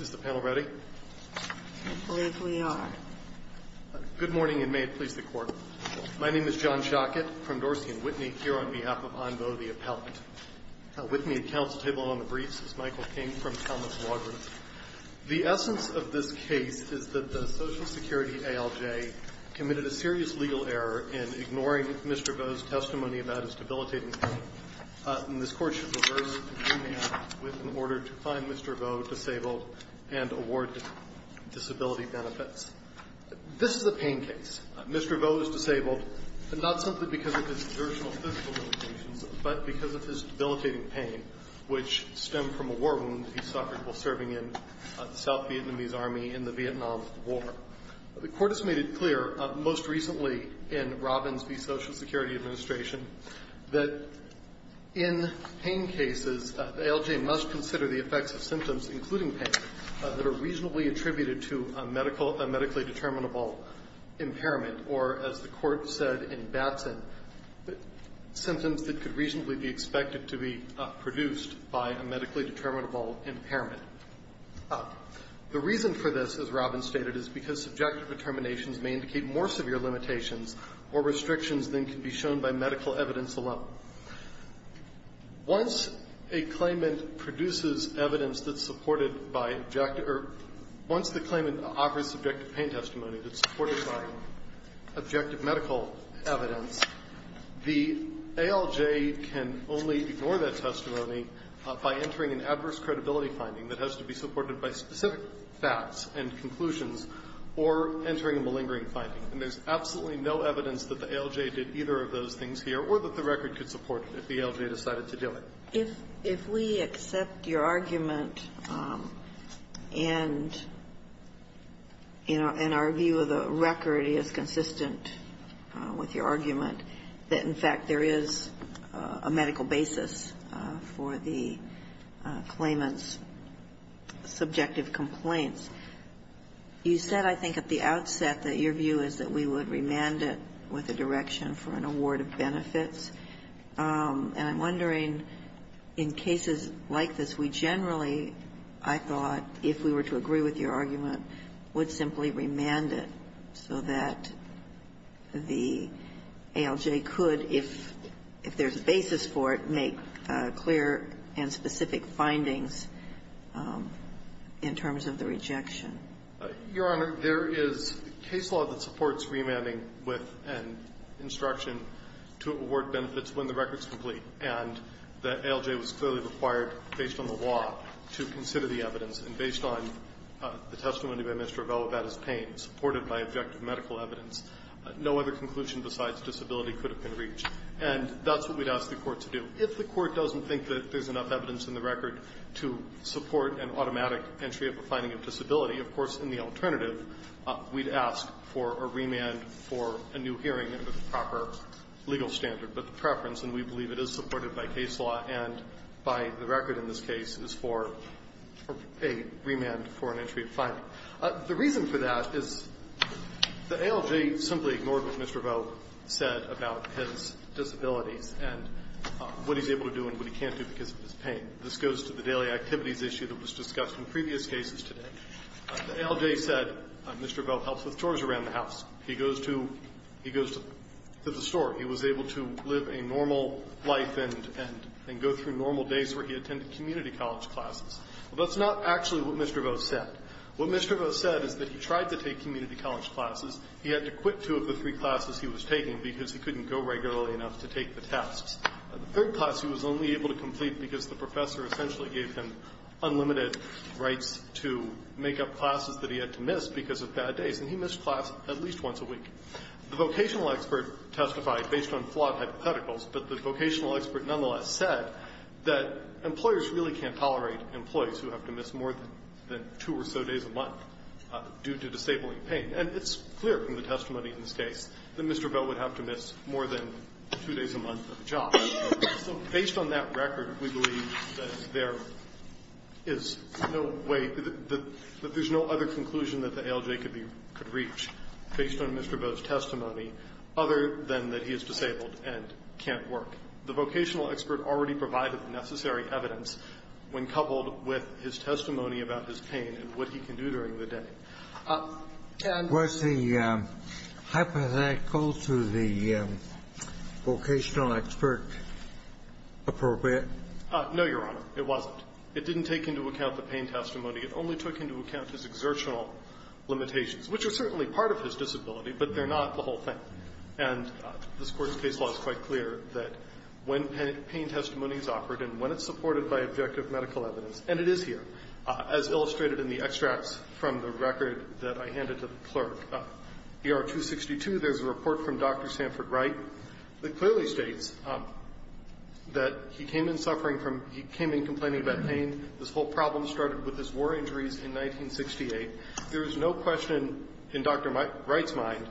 It's good morning and may it please the Court. My name is John Schockett from Dorsey & Whitney here on behalf of En Vaux the Appellant. With me at counsel's table on the briefs is Michael King from Thomas Walgreen. The essence of this case is that the Social Security ALJ committed a serious legal error in ignoring Mr. Vaux's testimony about his debilitating pain, and this Court should reverse the case with an order to find Mr. Vaux disabled and award disability benefits. This is a pain case. Mr. Vaux is disabled, but not simply because of his original physical limitations, but because of his debilitating pain, which stemmed from a war wound he suffered while serving in the South Vietnamese Army in the Vietnam War. The Court has made it clear, most recently in Robbins v. Social Security Administration, that in pain cases, the ALJ must consider the effects of symptoms, including pain, that are reasonably attributed to a medical – a medically determinable impairment, or, as the Court said in Batson, symptoms that could reasonably be expected to be produced by a medically determinable impairment. The reason for this, as Robbins stated, is because subjective determinations may indicate more severe limitations or restrictions than can be shown by medical evidence alone. Once a claimant produces evidence that's supported by objective – or, once the claimant offers subjective pain testimony that's supported by objective medical evidence, the ALJ can only ignore that testimony by entering an adverse credibility finding that has to be supported by specific facts and conclusions, or entering a malingering finding. And there's absolutely no evidence that the ALJ did either of those things here, or that the record could support it if the ALJ decided to do it. Ginsburg. If we accept your argument and, you know, and our view of the record is consistent with your argument that, in fact, there is a medical basis for the claimant's You said, I think, at the outset that your view is that we would remand it with a direction for an award of benefits. And I'm wondering, in cases like this, we generally, I thought, if we were to agree with your argument, would simply remand it so that the ALJ could, if there's a basis for it, make clear and specific findings. in terms of the rejection. Your Honor, there is case law that supports remanding with an instruction to award benefits when the record's complete. And the ALJ was clearly required, based on the law, to consider the evidence. And based on the testimony by Mr. Avella about his pain, supported by objective medical evidence, no other conclusion besides disability could have been reached. And that's what we'd ask the Court to do. If the Court doesn't think that there's enough evidence in the record to support an automatic entry of a finding of disability, of course, in the alternative, we'd ask for a remand for a new hearing under the proper legal standard. But the preference, and we believe it is supported by case law and by the record in this case, is for a remand for an entry of finding. The reason for that is the ALJ simply ignored what Mr. Vogue said about his disabilities. And what he's able to do and what he can't do because of his pain. This goes to the daily activities issue that was discussed in previous cases today. The ALJ said Mr. Vogue helps with chores around the house. He goes to the store. He was able to live a normal life and go through normal days where he attended community college classes. That's not actually what Mr. Vogue said. What Mr. Vogue said is that he tried to take community college classes. He had to quit two of the three classes he was taking because he couldn't go regularly enough to take the tasks. The third class he was only able to complete because the professor essentially gave him unlimited rights to make up classes that he had to miss because of bad days. And he missed class at least once a week. The vocational expert testified based on flawed hypotheticals, but the vocational expert nonetheless said that employers really can't tolerate employees who have to miss more than two or so days a month due to disabling pain. And it's clear from the testimony in this case that Mr. Vogue would have to miss more than two days a month of a job. So based on that record, we believe that there is no way, that there's no other conclusion that the ALJ could reach based on Mr. Vogue's testimony other than that he is disabled and can't work. The vocational expert already provided the necessary evidence when coupled with his disability. Was the hypothetical to the vocational expert appropriate? No, Your Honor. It wasn't. It didn't take into account the pain testimony. It only took into account his exertional limitations, which are certainly part of his disability, but they're not the whole thing. And this Court's case law is quite clear that when pain testimony is offered and when it's supported by objective medical evidence, and it is here, as illustrated in the extracts from the record that I handed to the clerk, ER 262, there's a report from Dr. Sanford Wright that clearly states that he came in suffering from, he came in complaining about pain. This whole problem started with his war injuries in 1968. There is no question in Dr. Wright's mind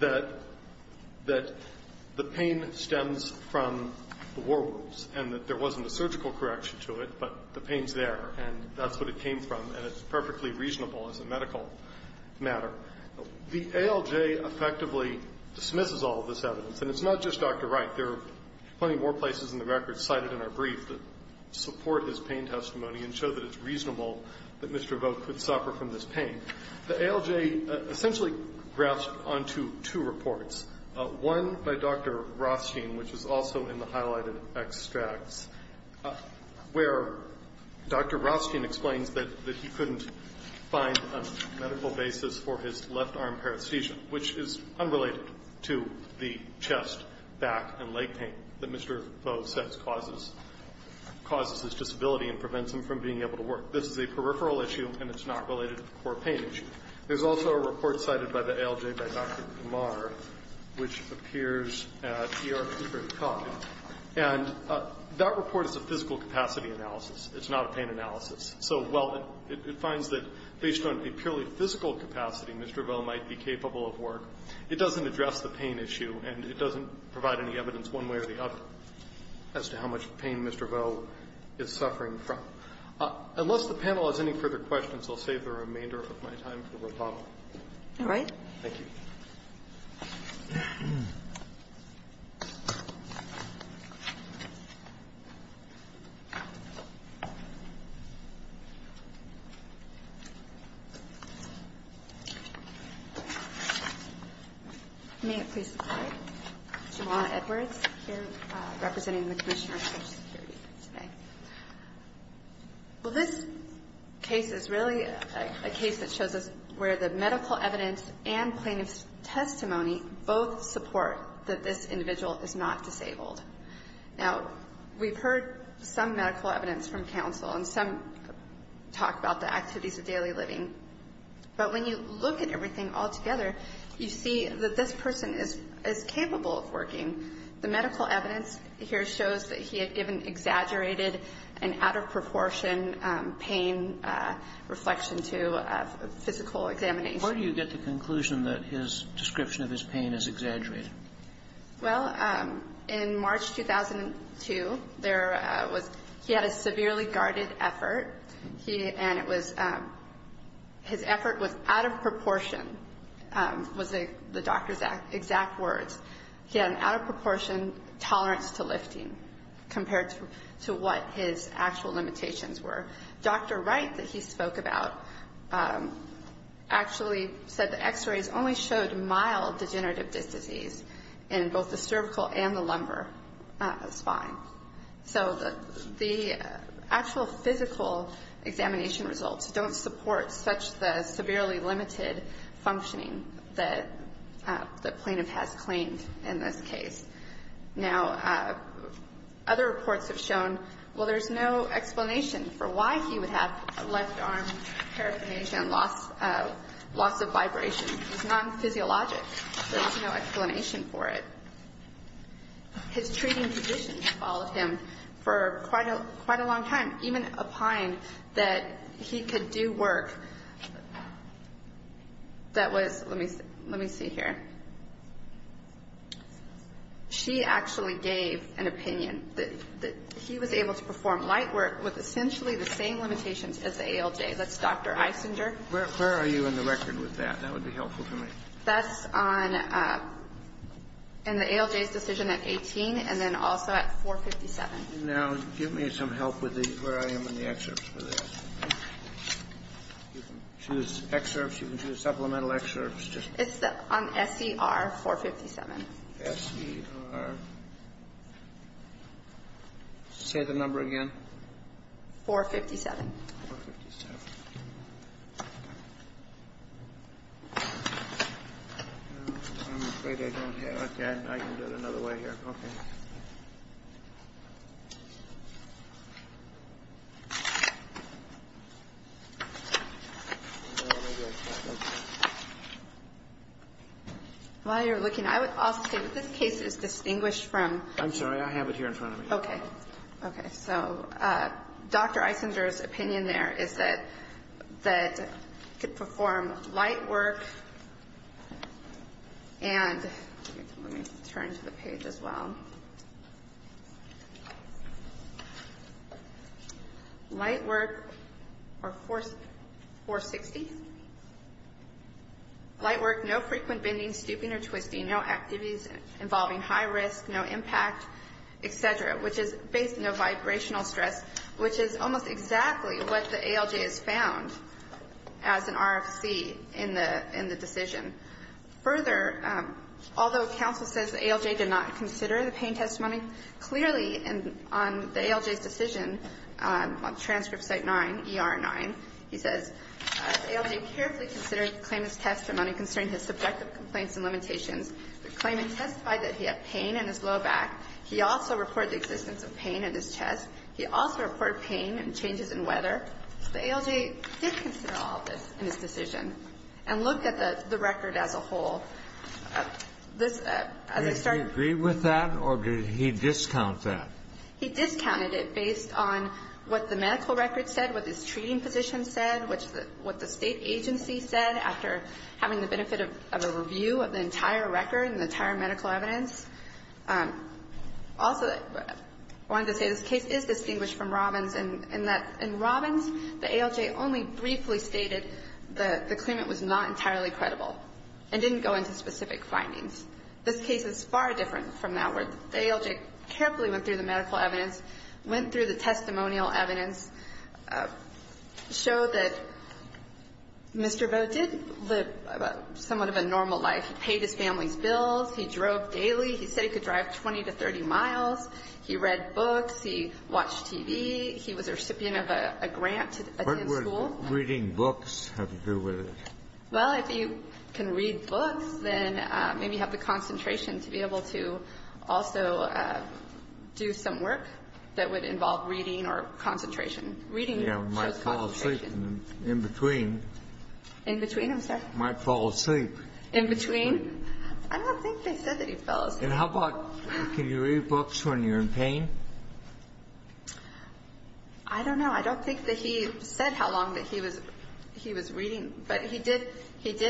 that the pain stems from the war wounds and that there wasn't a surgical correction to it, but the pain's there. And that's what it came from. And it's perfectly reasonable as a medical matter. The ALJ effectively dismisses all of this evidence. And it's not just Dr. Wright. There are plenty more places in the record cited in our brief that support his pain testimony and show that it's reasonable that Mr. Vogt could suffer from this pain. The ALJ essentially grafts onto two reports, one by Dr. Rothstein, which is also in the highlighted extracts, where Dr. Rothstein explains that he couldn't find a medical basis for his left arm paresthesia, which is unrelated to the chest, back, and leg pain that Mr. Vogt says causes his disability and prevents him from being able to work. This is a peripheral issue, and it's not related to the core pain issue. There's also a And that report is a physical capacity analysis. It's not a pain analysis. So while it finds that based on a purely physical capacity, Mr. Vogt might be capable of work, it doesn't address the pain issue, and it doesn't provide any evidence one way or the other as to how much pain Mr. Vogt is suffering from. Unless the panel has any further questions, I'll save the remainder of my time for rebuttal. All right. Thank you. May it please the Court, Juwanna Edwards, here, representing the Commissioner for Social Security today. Well, this case is really a case that shows us where the medical evidence and plaintiff's testimony both support that this individual is not disabled. Now, we've heard some medical evidence from counsel, and some talk about the activities of daily living. But when you look at everything all together, you see that this person is capable of working. The medical evidence here shows that he had even exaggerated an out-of-proportion pain reflection to a physical examination. Where do you get the conclusion that his description of his pain is exaggerated? Well, in March 2002, there was he had a severely guarded effort, and it was his effort was out-of-proportion, was the doctor's exact words. He had an out-of-proportion tolerance to lifting compared to what his actual limitations were. Dr. Wright, that he spoke about, actually said the x-rays only showed mild degenerative disc disease in both the cervical and the lumbar spine. So the actual physical examination results don't support such the severely limited functioning that the plaintiff has claimed in this case. Now, other reports have shown, well, there's no explanation for why he would have a left arm paraplegia and loss of vibration. It's non-physiologic. There's no explanation for it. His treating physician followed him for quite a long time, even opined that he could do work that was, let me see here. She actually gave an opinion that he was able to perform light work with essentially the same limitations as the ALJ. That's Dr. Isinger. Where are you in the record with that? That would be helpful to me. That's on, in the ALJ's decision at 18, and then also at 457. Now, give me some help with where I am in the excerpts for this. Choose excerpts. You can choose supplemental excerpts. It's on SCR 457. SCR. Say the number again. 457. No, I'm afraid I don't have it. I can do it another way here. Okay. While you're looking, I would also say that this case is distinguished from I'm sorry. I have it here in front of me. Okay. Okay. So Dr. Isinger's opinion there is that he could perform light work and let me turn to the page as well. Light work or 460. Light work, no frequent bending, stooping, or twisting. No activities involving high risk, no impact, etc., which is based on no vibrational stress, which is almost exactly what the ALJ has found as an RFC in the decision. Further, although counsel says the ALJ did not consider the pain testimony, clearly on the ALJ's decision on transcript site 9, ER 9, he says the ALJ carefully considered the claimant's testimony concerning his subjective complaints and limitations. The claimant testified that he had pain in his low back. He also reported the existence of pain in his chest. He also reported pain and changes in weather. The ALJ did consider all of this in his decision and looked at the record as a whole. This, as I started Did he agree with that or did he discount that? He discounted it based on what the medical record said, what his treating position said, what the state agency said after having the benefit of a review of the entire record and the entire medical evidence. Also, I wanted to say this case is distinguished from Robbins in that in Robbins, the ALJ only briefly stated that the claimant was not entirely credible and didn't go into specific findings. This case is far different from that where the ALJ carefully went through the medical evidence, showed that Mr. Boat did live somewhat of a normal life. He paid his family's bills. He drove daily. He said he could drive 20 to 30 miles. He read books. He watched TV. He was a recipient of a grant to attend school. What would reading books have to do with it? Well, if you can read books, then maybe you have the concentration to be able to also do some work that would involve reading or concentration. Reading shows concentration. Yeah, might fall asleep in between. In between, I'm sorry. Might fall asleep. In between. I don't think they said that he fell asleep. And how about can you read books when you're in pain? I don't know. I don't think that he said how long that he was reading. But he did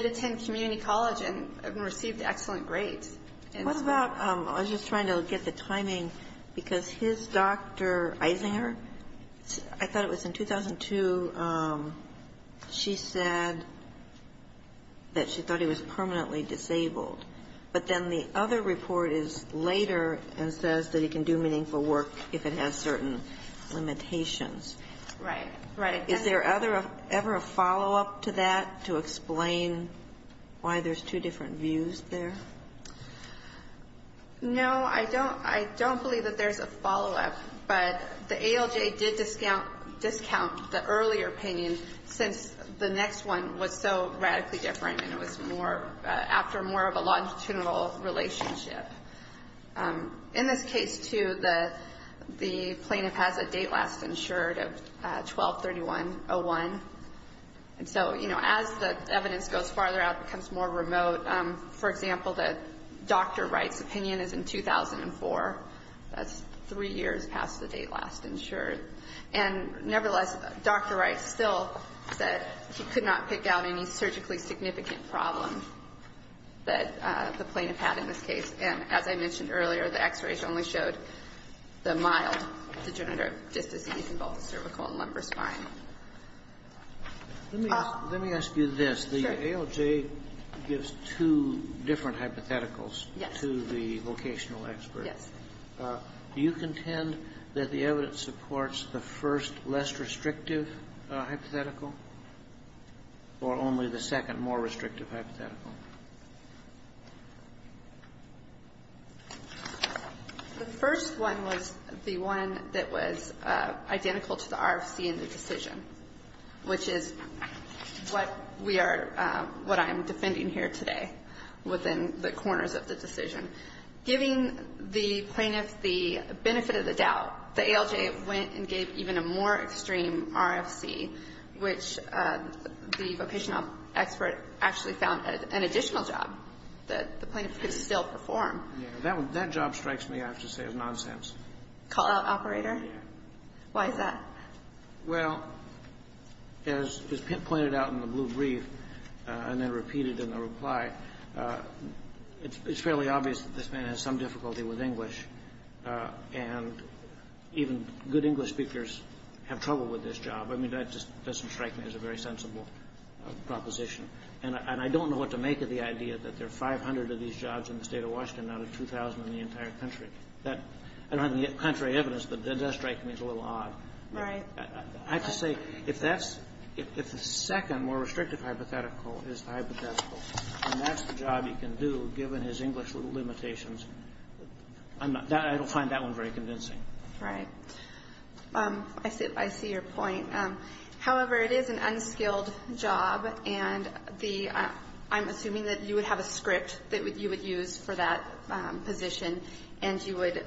attend community college and received excellent grades. What about, I was just trying to get the timing, because his Dr. Isinger, I thought it was in 2002, she said that she thought he was permanently disabled. But then the other report is later and says that he can do meaningful work if it has certain limitations. Right. Right. Is there ever a follow-up to that to explain why there's two different views there? No, I don't believe that there's a follow-up. But the ALJ did discount the earlier opinion since the next one was so radically different and it was more, after more of a longitudinal relationship. In this case, too, the plaintiff has a date last insured of 12-31-01. And so, you know, as the evidence goes farther out, it becomes more remote. For example, the doctor writes opinion is in 2004. That's three years past the date last insured. And nevertheless, Dr. Wright still said he could not pick out any surgically significant problem that the plaintiff had in this case. And as I mentioned earlier, the x-rays only showed the mild degenerative disc disease involving cervical and lumbar spine. Let me ask you this. The ALJ gives two different hypotheticals to the vocational experts. Yes. Do you contend that the evidence supports the first less restrictive hypothetical or only the second more restrictive hypothetical? The first one was the one that was identical to the RFC in the decision, which is what we are, what I am defending here today within the corners of the decision. Giving the plaintiff the benefit of the doubt, the ALJ went and gave even a more extreme RFC, which the vocational expert actually found an additional job that the plaintiff could still perform. Yes. That job strikes me, I have to say, as nonsense. Call-out operator? Yes. Why is that? Well, as Pitt pointed out in the blue brief and then repeated in the reply, it's fairly obvious that this man has some difficulty with English. And even good English speakers have trouble with this job. I mean, that just doesn't strike me as a very sensible proposition. And I don't know what to make of the idea that there are 500 of these jobs in the State of Washington out of 2,000 in the entire country. I don't have the contrary evidence, but that does strike me as a little odd. Right. I have to say, if the second more restrictive hypothetical is the hypothetical and that's the job he can do given his English limitations, I don't find that one very convincing. Right. I see your point. However, it is an unskilled job, and I'm assuming that you would have a script that you would use for that position and you would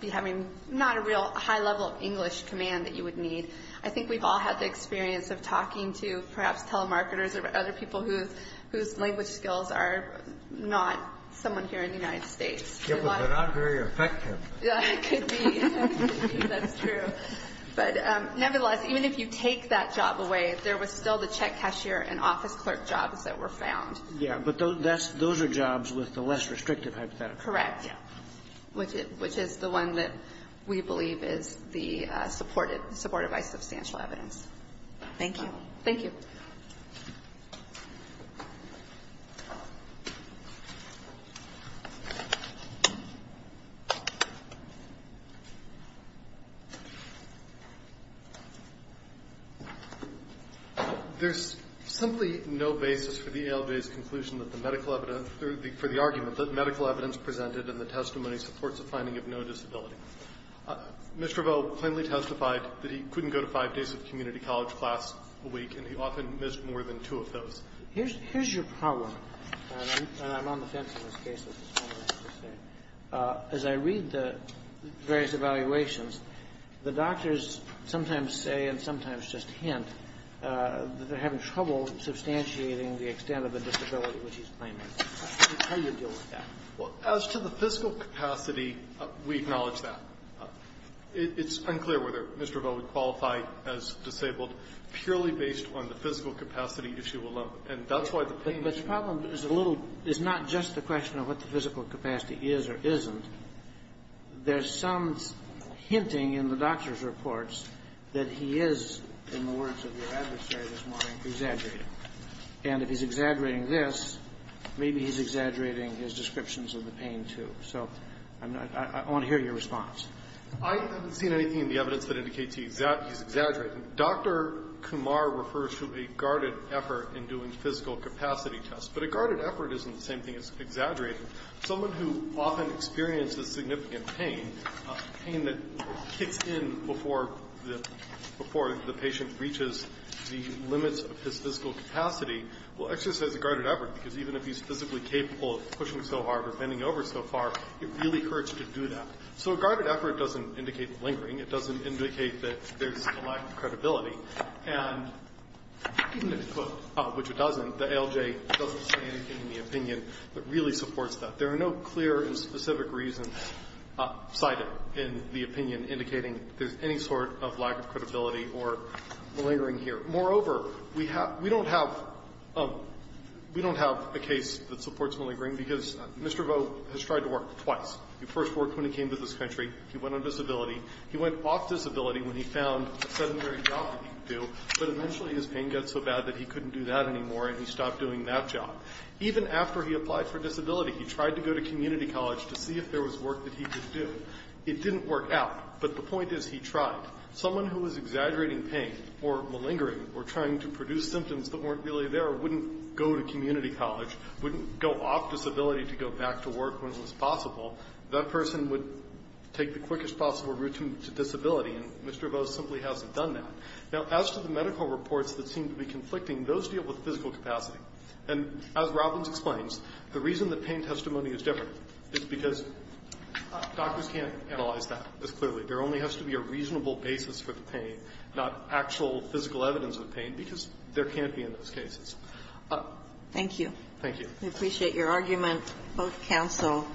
be having not a real high level of English command that you would need. I think we've all had the experience of talking to perhaps telemarketers or other people whose language skills are not someone here in the United States. Yeah, but they're not very effective. Could be. That's true. But nevertheless, even if you take that job away, there was still the check cashier and office clerk jobs that were found. Yeah. But those are jobs with the less restrictive hypothetical. Correct. Which is the one that we believe is the supported by substantial evidence. Thank you. Thank you. Thank you. There's simply no basis for the ALJ's conclusion that the medical evidence for the argument that medical evidence presented in the testimony supports a finding of no disability. Mr. Riveau plainly testified that he couldn't go to five days of community college class a week and he often missed more than two of those. Here's your problem, and I'm on the fence in this case, as I read the various evaluations. The doctors sometimes say and sometimes just hint that they're having trouble substantiating the extent of the disability which he's claiming. How do you deal with that? Well, as to the fiscal capacity, we acknowledge that. It's unclear whether Mr. Riveau would qualify as disabled purely based on the physical capacity issue alone. And that's why the pain is so great. But the problem is a little – is not just the question of what the physical capacity is or isn't. There's some hinting in the doctor's reports that he is, in the words of your adversary this morning, exaggerating. And if he's exaggerating this, maybe he's exaggerating his descriptions of the pain, So I want to hear your response. I haven't seen anything in the evidence that indicates he's exaggerating. Dr. Kumar refers to a guarded effort in doing physical capacity tests. But a guarded effort isn't the same thing as exaggerating. Someone who often experiences significant pain, pain that kicks in before the patient reaches the limits of his physical capacity, will exercise a guarded effort, because even if he's physically capable of pushing so hard or bending over so far, it really hurts to do that. So a guarded effort doesn't indicate lingering. It doesn't indicate that there's a lack of credibility. And even if, quote, which it doesn't, the ALJ doesn't say anything in the opinion that really supports that. There are no clear and specific reasons cited in the opinion indicating there's any sort of lack of credibility or lingering here. Moreover, we don't have a case that supports malingering, because Mr. Vo has tried to work twice. He first worked when he came to this country. He went on disability. He went off disability when he found a sedentary job that he could do. But eventually his pain got so bad that he couldn't do that anymore, and he stopped doing that job. Even after he applied for disability, he tried to go to community college to see if there was work that he could do. It didn't work out. But the point is, he tried. Someone who was exaggerating pain or malingering or trying to produce symptoms that weren't really there wouldn't go to community college, wouldn't go off disability to go back to work when it was possible. That person would take the quickest possible route to disability, and Mr. Vo simply hasn't done that. Now, as to the medical reports that seem to be conflicting, those deal with physical capacity. And as Robbins explains, the reason that pain testimony is different is because doctors can't analyze that as clearly. There only has to be a reasonable basis for the pain, not actual physical evidence of pain, because there can't be in those cases. Thank you. Thank you. We appreciate your argument, both counsel.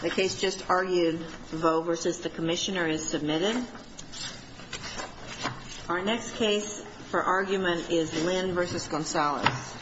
The case just argued, Vo v. The Commissioner, is submitted. Our next case for argument is Lynn v. Gonzalez.